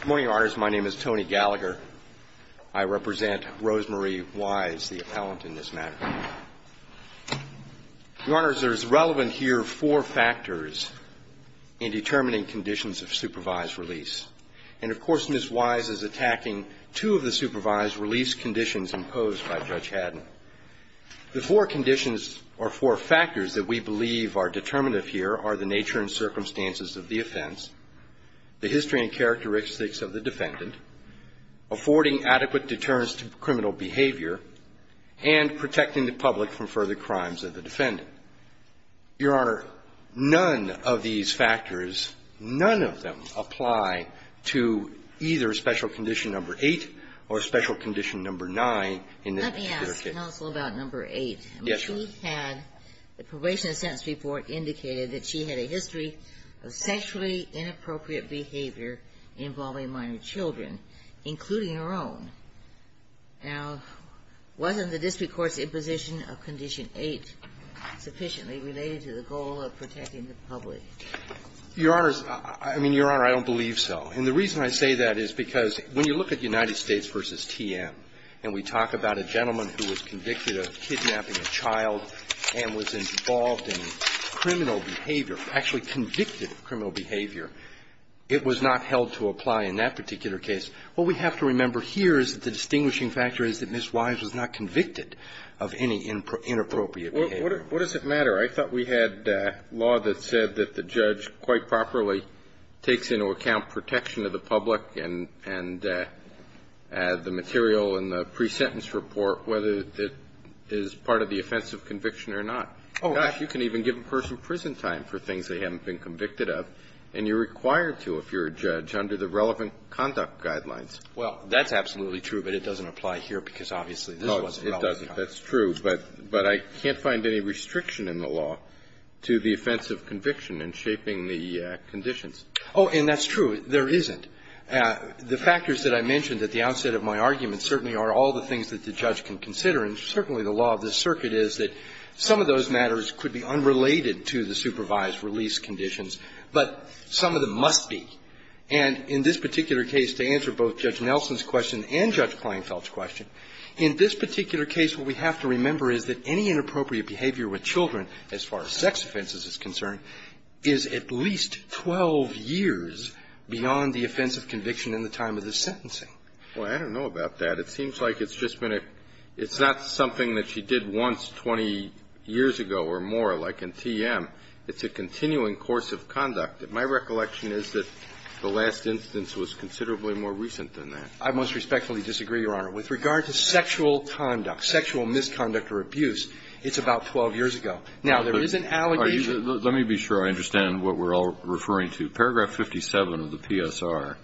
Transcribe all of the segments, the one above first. Good morning, your honors. My name is Tony Gallagher. I represent Rosemarie Wise, the appellant in this matter. Your honors, there is relevant here four factors in determining conditions of supervised release. And of course, Ms. Wise is attacking two of the supervised release conditions imposed by Judge Haddon. The four conditions or four factors that we have here are the history and characteristics of the defendant, affording adequate deterrence to criminal behavior, and protecting the public from further crimes of the defendant. Your honor, none of these factors, none of them, apply to either special condition number 8 or special condition number 9 in this particular case. Let me ask counsel about number 8. Yes, your honor. She had the probation and sentence report indicated that she had a history of sexually inappropriate behavior involving minor children, including her own. Now, wasn't the district court's imposition of condition 8 sufficiently related to the goal of protecting the public? Your honors, I mean, your honor, I don't believe so. And the reason I say that is because when you look at United States v. TM, and we talk about a gentleman who was convicted of kidnapping a child and was involved in criminal behavior, actually convicted of criminal behavior, it was not held to apply in that particular case. What we have to remember here is that the distinguishing factor is that Ms. Wise was not convicted of any inappropriate behavior. What does it matter? I thought we had law that said that the judge quite properly takes into account protection of the public and the material in the pre-sentence report, whether it is part of the offense of conviction or not. Gosh, you can even give a person prison time for things they haven't been convicted of, and you're required to if you're a judge under the relevant conduct guidelines. Well, that's absolutely true, but it doesn't apply here because obviously this wasn't relevant. No, it doesn't. That's true. But I can't find any restriction in the law to the offense of conviction in shaping the conditions. Oh, and that's true. There isn't. The factors that I mentioned at the outset of my argument certainly are all the things that the judge can consider, and certainly the law of this case is related to the supervised release conditions, but some of them must be. And in this particular case, to answer both Judge Nelson's question and Judge Kleinfeld's question, in this particular case what we have to remember is that any inappropriate behavior with children, as far as sex offenses is concerned, is at least 12 years beyond the offense of conviction in the time of the sentencing. Well, I don't know about that. It seems like it's just been a – it's not something that she did once 20 years ago or more, like in TM. It's a continuing course of conduct. My recollection is that the last instance was considerably more recent than that. I most respectfully disagree, Your Honor. With regard to sexual conduct, sexual misconduct or abuse, it's about 12 years ago. Now, there is an allegation of that. Let me be sure I understand what we're all referring to. The paragraph 57 of the PSR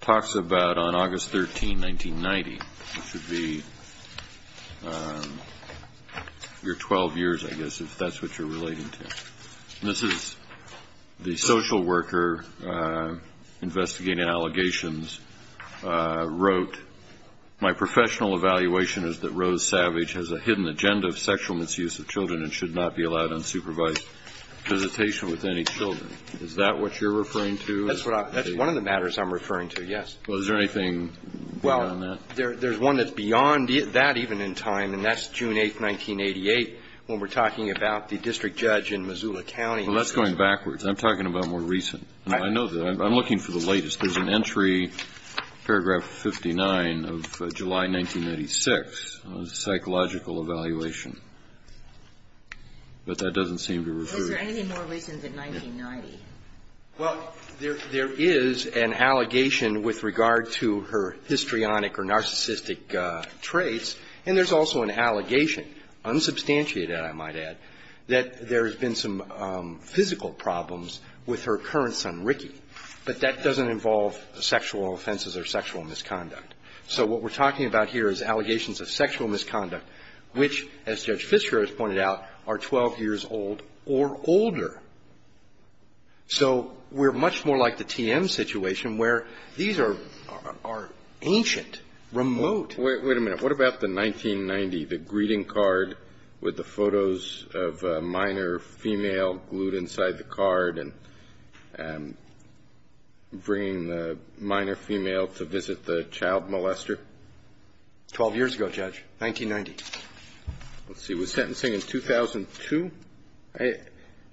talks about on August 13, 1990, which would be your 12 years, I guess, if that's what you're relating to. This is the social worker investigating allegations wrote, my professional evaluation is that Rose Savage has a hidden agenda of sexual misuse of children and should not be allowed unsupervised visitation with any children. Is that what you're referring to? That's what I'm – that's one of the matters I'm referring to, yes. Well, is there anything beyond that? Well, there's one that's beyond that even in time, and that's June 8, 1988, when we're talking about the district judge in Missoula County. Well, that's going backwards. I'm talking about more recent. I know that. I'm looking for the latest. There's an entry, paragraph 59 of July 1996, psychological evaluation. But that doesn't seem to refer to – Is there anything more recent than 1990? Well, there is an allegation with regard to her histrionic or narcissistic traits, and there's also an allegation, unsubstantiated, I might add, that there has been some physical problems with her current son, Ricky. But that doesn't involve sexual offenses or sexual misconduct. So what we're talking about here is allegations of sexual misconduct, which, as Judge So we're much more like the TM situation, where these are ancient, remote. Wait a minute. What about the 1990, the greeting card with the photos of a minor female glued inside the card and bringing the minor female to visit the child molester? Twelve years ago, Judge, 1990. Let's see. She was sentencing in 2002.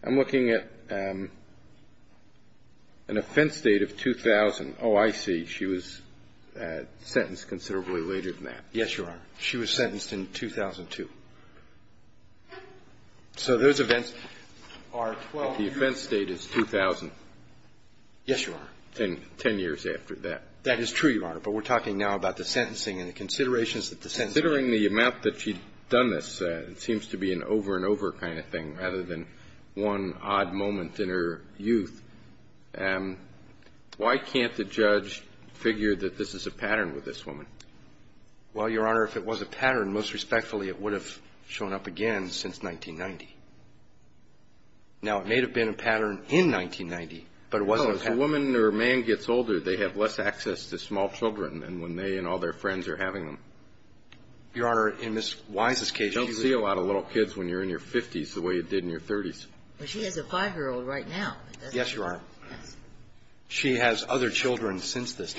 I'm looking at an offense date of 2000. Oh, I see. She was sentenced considerably later than that. Yes, Your Honor. She was sentenced in 2002. So those events are 12 years. The offense date is 2000. Yes, Your Honor. Ten years after that. That is true, Your Honor. But we're talking now about the sentencing and the considerations that the sentencing the amount that she'd done this, it seems to be an over and over kind of thing, rather than one odd moment in her youth. Why can't the judge figure that this is a pattern with this woman? Well, Your Honor, if it was a pattern, most respectfully, it would have shown up again since 1990. Now, it may have been a pattern in 1990, but it wasn't a pattern. If a woman or a man gets older, they have less access to small children than when they and all their friends are having them. Your Honor, in Ms. Wise's case, she was --- I don't see a lot of little kids when you're in your 50s the way you did in your 30s. Well, she has a 5-year-old right now. Yes, Your Honor. She has other children since this.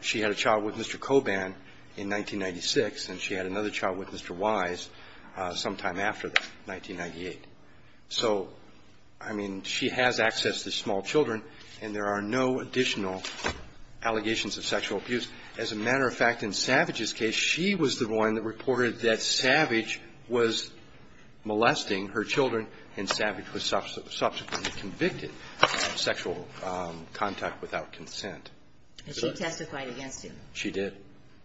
She had a child with Mr. Coban in 1996, and she had another child with Mr. Wise sometime after that, 1998. So, I mean, she has access to small children, and there are no additional allegations of sexual abuse. As a matter of fact, in Savage's case, she was the one that reported that Savage was molesting her children, and Savage was subsequently convicted of sexual contact without consent. And she testified against him. She did.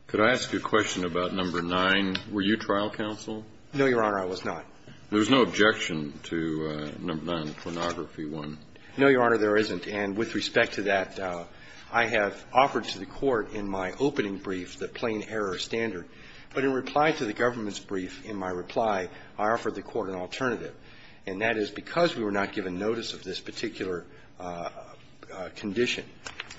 Could I ask you a question about number 9? Were you trial counsel? No, Your Honor, I was not. There was no objection to number 9, pornography 1. No, Your Honor, there isn't. And with respect to that, I have offered to the Court in my opening brief the plain error standard. But in reply to the government's brief, in my reply, I offered the Court an alternative, and that is because we were not given notice of this particular condition,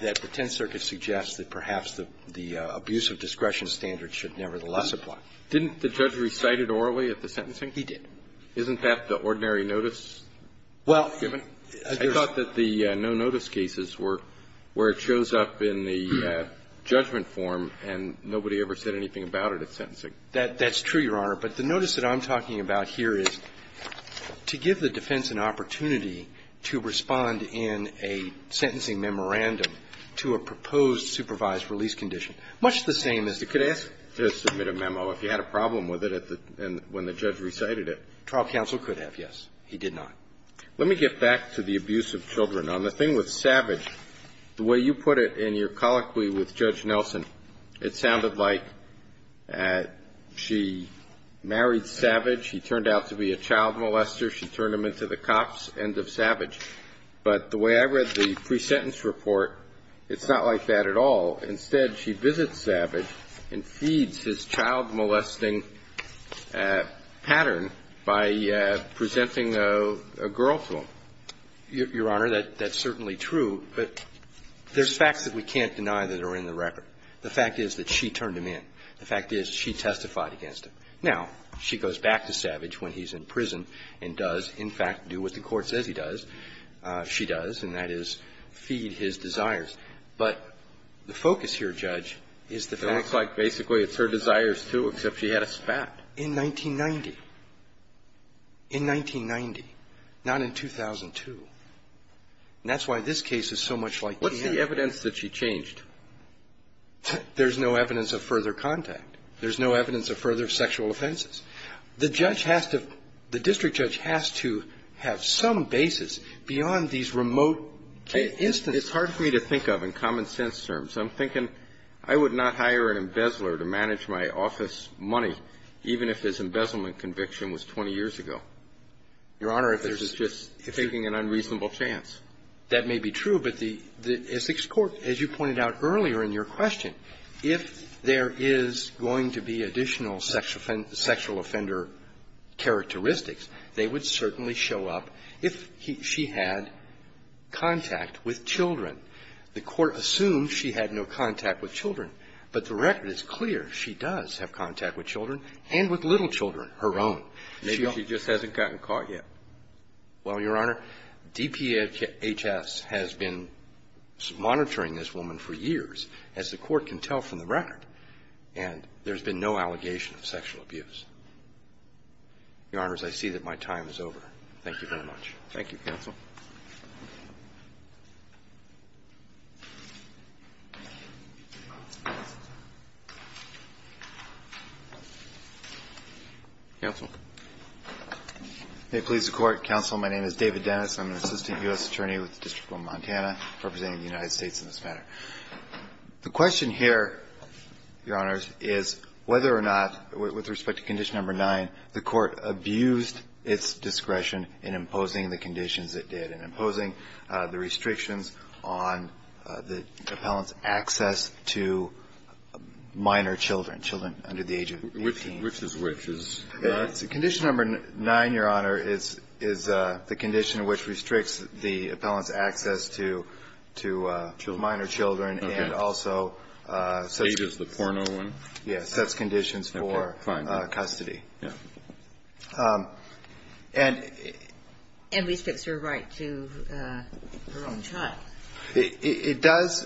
that the Tenth Circuit suggests that perhaps the abuse of discretion standard should nevertheless apply. Didn't the judge recite it orally at the sentencing? He did. Isn't that the ordinary notice given? I thought that the no-notice cases were where it shows up in the judgment form, and nobody ever said anything about it at sentencing. That's true, Your Honor. But the notice that I'm talking about here is to give the defense an opportunity to respond in a sentencing memorandum to a proposed supervised release condition, much the same as the other. I'm not sure that the judge recited it. Trial counsel could have, yes. He did not. Let me get back to the abuse of children. On the thing with Savage, the way you put it in your colloquy with Judge Nelson, it sounded like she married Savage, he turned out to be a child molester, she turned him into the cop's end of Savage. But the way I read the pre-sentence report, it's not like that at all. Instead, she visits Savage and feeds his child-molesting pattern by presenting a girl to him. Your Honor, that's certainly true, but there's facts that we can't deny that are in the record. The fact is that she turned him in. The fact is she testified against him. Now, she goes back to Savage when he's in prison and does, in fact, do what the Court says he does, she does, and that is feed his desires. But the focus here, Judge, is the facts. It looks like basically it's her desires, too, except she had a spat. In 1990. In 1990, not in 2002. And that's why this case is so much like the other. What's the evidence that she changed? There's no evidence of further contact. There's no evidence of further sexual offenses. The judge has to – the district judge has to have some basis beyond these remote instances. It's hard for me to think of in common-sense terms. I'm thinking I would not hire an embezzler to manage my office money, even if his embezzlement conviction was 20 years ago. Your Honor, if there's just – if you – It's taking an unreasonable chance. That may be true, but the – as the Court, as you pointed out earlier in your question, if there is going to be additional sexual offender characteristics, they would certainly show up if he – she had contact with children. The Court assumes she had no contact with children, but the record is clear. She does have contact with children and with little children, her own. Maybe she just hasn't gotten caught yet. Well, Your Honor, DPHS has been monitoring this woman for years, as the Court can tell from the record, and there's been no allegation of sexual abuse. Your Honors, I see that my time is over. Thank you very much. Thank you, counsel. Counsel. May it please the Court. Counsel, my name is David Dennis. I'm an assistant U.S. attorney with the District of Montana, representing the United States in this matter. The question here, Your Honors, is whether or not, with respect to conditions number 9, the Court abused its discretion in imposing the conditions it did, in imposing the restrictions on the appellant's access to minor children, children under the age of 15. Which is which? Condition number 9, Your Honor, is the condition which restricts the appellant's access to minor children and also sets conditions for custody. Yeah. And... And restricts her right to her own child. It does,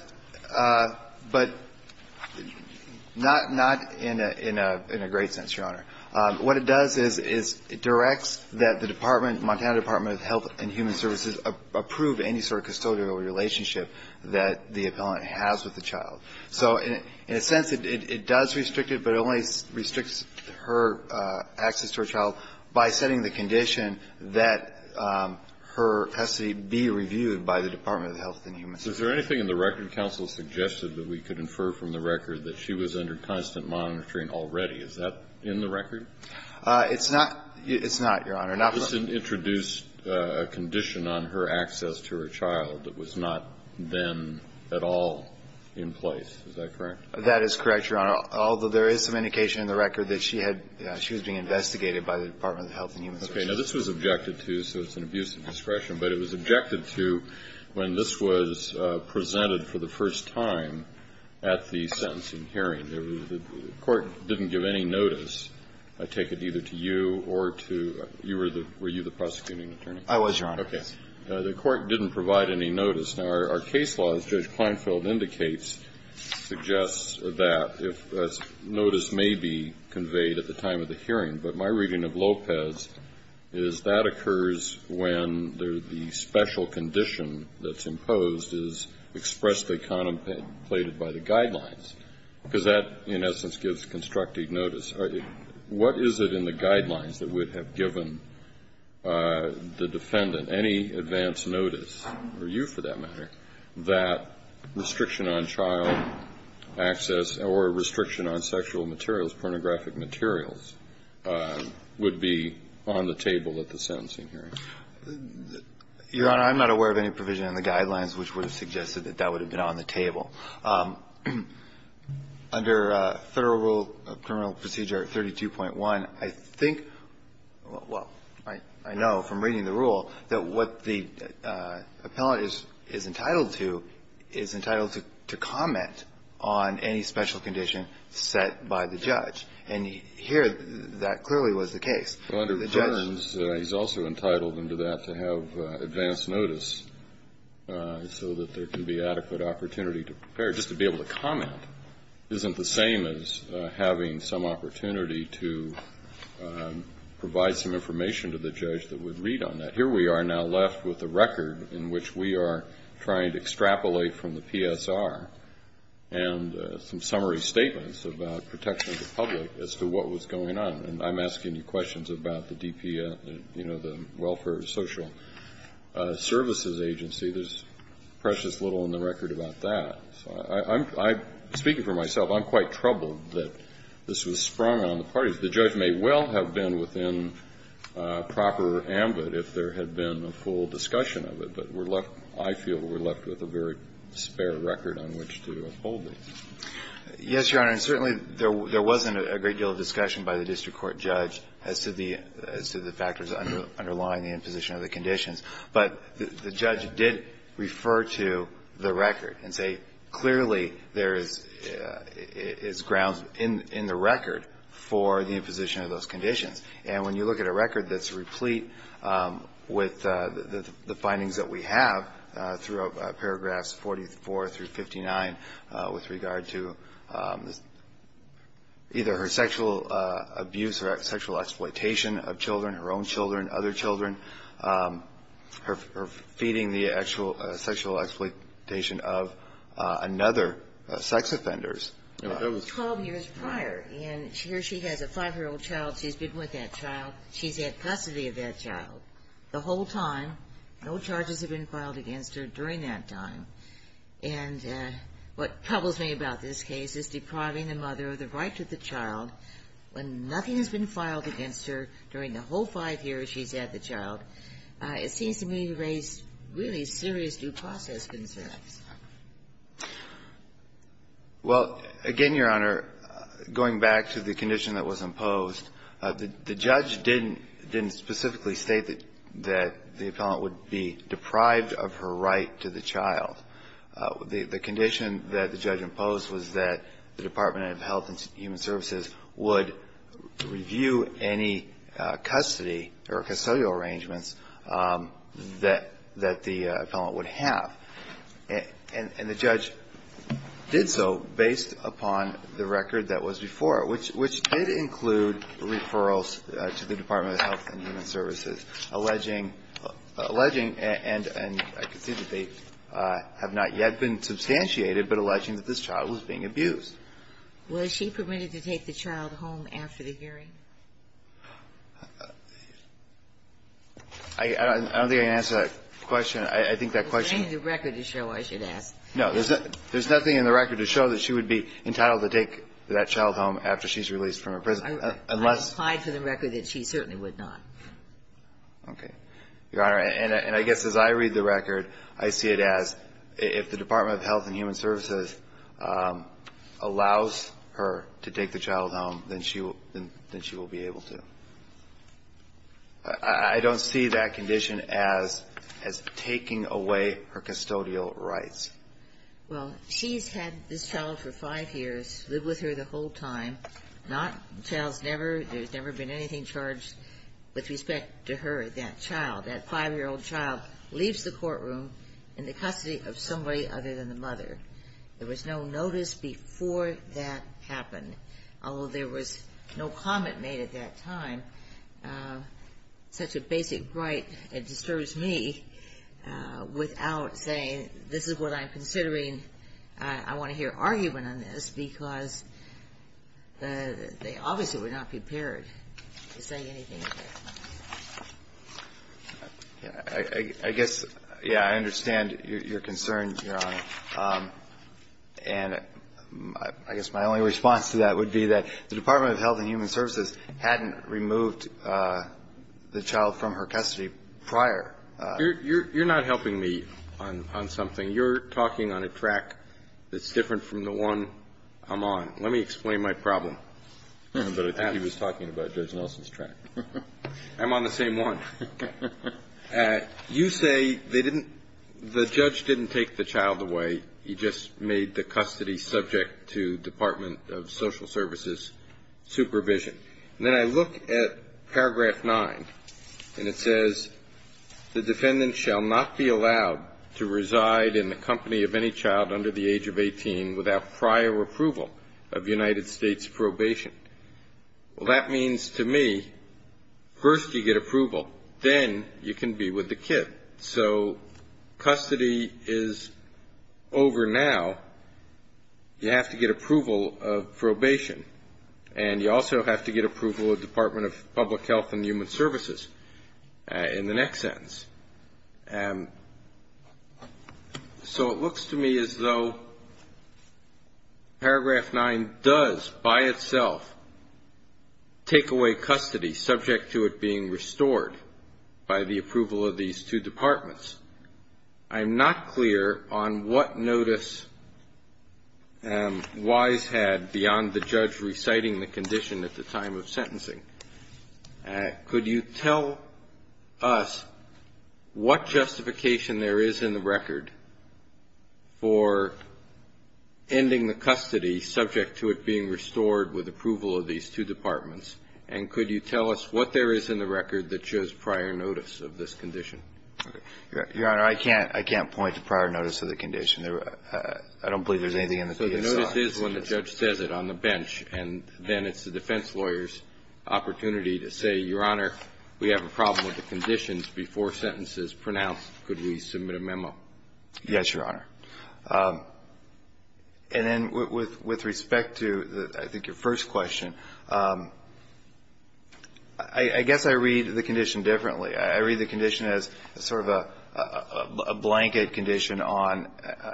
but not in a great sense, Your Honor. What it does is it directs that the department, Montana Department of Health and Human Services, approve any sort of custodial relationship that the appellant has with the child. So in a sense, it does restrict it, but it only restricts her access to her child by setting the condition that her custody be reviewed by the Department of Health and Human Services. Is there anything in the record counsel suggested that we could infer from the record that she was under constant monitoring already? Is that in the record? It's not. It's not, Your Honor. Not from... It just introduced a condition on her access to her child that was not then at all in place. Is that correct? That is correct, Your Honor. Although there is some indication in the record that she had... She was being investigated by the Department of Health and Human Services. Okay. Now, this was objected to, so it's an abuse of discretion, but it was objected to when this was presented for the first time at the sentencing hearing. The court didn't give any notice, I take it, either to you or to... You were the... Were you the prosecuting attorney? I was, Your Honor. Okay. The court didn't provide any notice. Now, our case law, as Judge Kleinfeld indicates, suggests that notice may be conveyed at the time of the hearing, but my reading of Lopez is that occurs when the special condition that's imposed is expressly contemplated by the guidelines, because that, in essence, gives constructive notice. What is it in the guidelines that would have given the defendant any advance notice? Or you, for that matter, that restriction on child access or restriction on sexual materials, pornographic materials, would be on the table at the sentencing hearing? Your Honor, I'm not aware of any provision in the guidelines which would have suggested that that would have been on the table. Under Federal Rule of Criminal Procedure 32.1, I think... Well, I know from reading the rule that what the appellant is entitled to, is entitled to comment on any special condition set by the judge. And here, that clearly was the case. Under Fearns, he's also entitled under that to have advance notice so that there can be adequate opportunity to prepare. Just to be able to comment isn't the same as having some opportunity to provide some information to the judge that would read on that. Here we are now left with a record in which we are trying to extrapolate from the PSR and some summary statements about protection of the public as to what was going on. And I'm asking you questions about the DPF, the Welfare and Social Services Agency. There's precious little in the record about that. Speaking for myself, I'm quite troubled that this was sprung on the parties. The judge may well have been within proper ambit if there had been a full discussion of it, but we're left, I feel we're left with a very spare record on which to uphold it. Yes, Your Honor. And certainly there wasn't a great deal of discussion by the district court judge as to the factors underlying the imposition of the conditions. But the judge did refer to the record and say clearly there is grounds in the record for the imposition of those conditions. And when you look at a record that's replete with the findings that we have throughout paragraphs 44 through 59 with regard to either her sexual abuse or sexual exploitation of children, her own children, other children, her feeding the actual sexual exploitation of another sex offenders. Twelve years prior. And here she has a five-year-old child. She's been with that child. She's had custody of that child the whole time. No charges have been filed against her during that time. And what troubles me about this case is depriving the mother of the right to the child when nothing has been filed against her during the whole five years she's had the child. It seems to me to raise really serious due process concerns. Well, again, Your Honor, going back to the condition that was imposed, the judge didn't specifically state that the appellant would be deprived of her right to the child. The condition that the judge imposed was that the Department of Health and Human Services would review any custody or custodial arrangements that the appellant would have. And the judge did so based upon the record that was before it, which did include referrals to the Department of Health and Human Services, alleging and I can see that they have not yet been substantiated, but alleging that this child was being abused. Was she permitted to take the child home after the hearing? I don't think I can answer that question. I think that question. There's nothing in the record to show, I should ask. No. There's nothing in the record to show that she would be entitled to take that child home after she's released from her prison. I replied to the record that she certainly would not. Okay. Your Honor, and I guess as I read the record, I see it as if the Department of Health and Human Services allows her to take the child home, then she will be able to. I don't see that condition as taking away her custodial rights. Well, she's had this child for five years, lived with her the whole time. Not, the child's never, there's never been anything charged with respect to her, that child. That five-year-old child leaves the courtroom in the custody of somebody other than the mother. There was no notice before that happened. Although there was no comment made at that time, such a basic right, it disturbs me without saying this is what I'm considering. I want to hear argument on this because they obviously were not prepared to say anything. I guess, yeah, I understand your concern, Your Honor, and I guess my only response to that would be that the Department of Health and Human Services hadn't removed the child from her custody prior. You're not helping me on something. You're talking on a track that's different from the one I'm on. Let me explain my problem. But I think he was talking about Judge Nelson's track. I'm on the same one. Okay. You say they didn't, the judge didn't take the child away. He just made the custody subject to Department of Social Services supervision. And then I look at Paragraph 9, and it says, The defendant shall not be allowed to reside in the company of any child under the age of 18 without prior approval of United States probation. Well, that means to me, first you get approval, then you can be with the kid. So custody is over now. You have to get approval of probation, and you also have to get approval of Department of Public Health and Human Services in the next sentence. So it looks to me as though Paragraph 9 does by itself take away custody, subject to it being restored by the approval of these two departments. I'm not clear on what notice Wise had beyond the judge reciting the condition at the time of sentencing. Could you tell us what justification there is in the record for ending the custody subject to it being restored with approval of these two departments? And could you tell us what there is in the record that shows prior notice of this condition? Your Honor, I can't point to prior notice of the condition. I don't believe there's anything in the PSR. So the notice is when the judge says it on the bench, and then it's the defense lawyer's opportunity to say, Your Honor, we have a problem with the conditions before sentence is pronounced. Could we submit a memo? Yes, Your Honor. And then with respect to, I think, your first question, I guess I read the condition differently. I read the condition as sort of a blanket condition on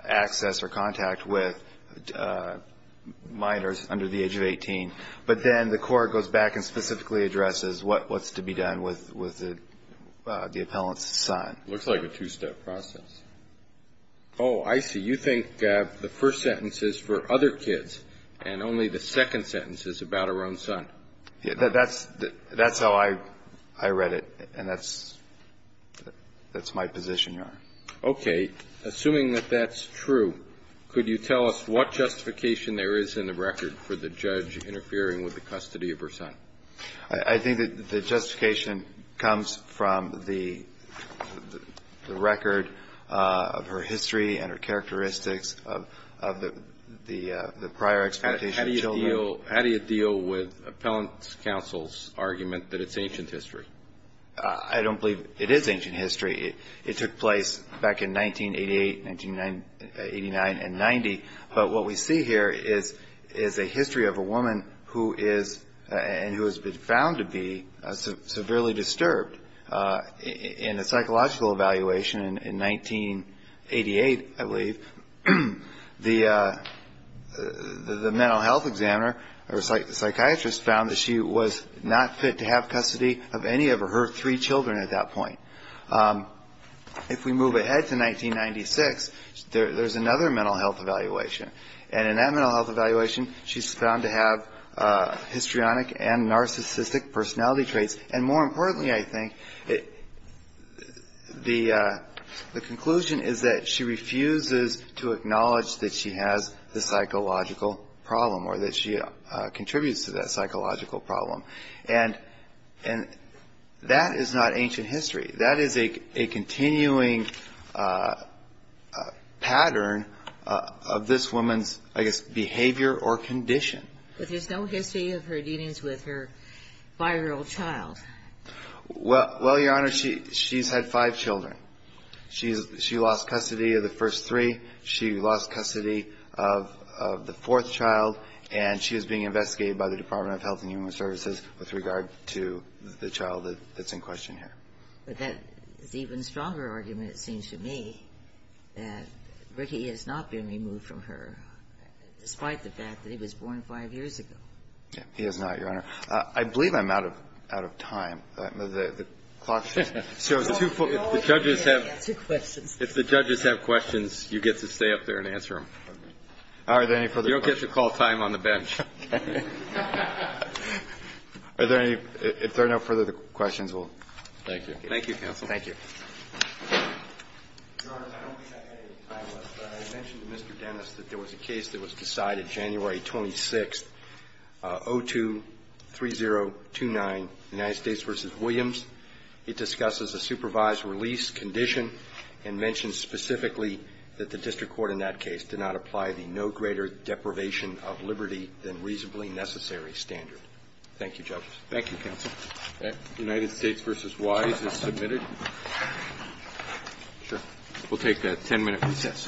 access or contact with minors under the age of 18. But then the court goes back and specifically addresses what's to be done with the appellant's son. It looks like a two-step process. Oh, I see. You think the first sentence is for other kids and only the second sentence is about her own son. That's how I read it, and that's my position, Your Honor. Okay. Assuming that that's true, could you tell us what justification there is in the record for the judge interfering with the custody of her son? I think that the justification comes from the record of her history and her characteristics of the prior exploitation of children. How do you deal with appellant's counsel's argument that it's ancient history? I don't believe it is ancient history. It took place back in 1988, 1989, and 1990. But what we see here is a history of a woman who is and who has been found to be severely disturbed in a psychological evaluation in 1988, I believe. The mental health examiner or psychiatrist found that she was not fit to have custody of any of her three children at that point. If we move ahead to 1996, there's another mental health evaluation. And in that mental health evaluation, she's found to have histrionic and narcissistic personality traits. And more importantly, I think, the conclusion is that she refuses to acknowledge that she has the psychological problem or that she contributes to that psychological problem. And that is not ancient history. That is a continuing pattern of this woman's, I guess, behavior or condition. But there's no history of her dealings with her five-year-old child. Well, Your Honor, she's had five children. She lost custody of the first three. She lost custody of the fourth child. And she is being investigated by the Department of Health and Human Services with regard to the child that's in question here. But that is an even stronger argument, it seems to me, that Ricky is not being removed from her, despite the fact that he was born five years ago. He is not, Your Honor. I believe I'm out of time. The clock shows two full minutes. If the judges have questions, you get to stay up there and answer them. Are there any further questions? You don't get to call time on the bench. Okay. Are there any? If there are no further questions, we'll. Thank you. Thank you, counsel. Thank you. Your Honor, I don't think I had any time left, but I mentioned to Mr. Dennis that there was a case that was decided January 26th, 02-3029, United States v. Williams. It discusses a supervised release condition and mentioned specifically that the district court in that case did not apply the no greater deprivation of liberty than reasonably necessary standard. Thank you, judges. Thank you, counsel. United States v. Wise is submitted. We'll take that 10-minute recess. Thank you.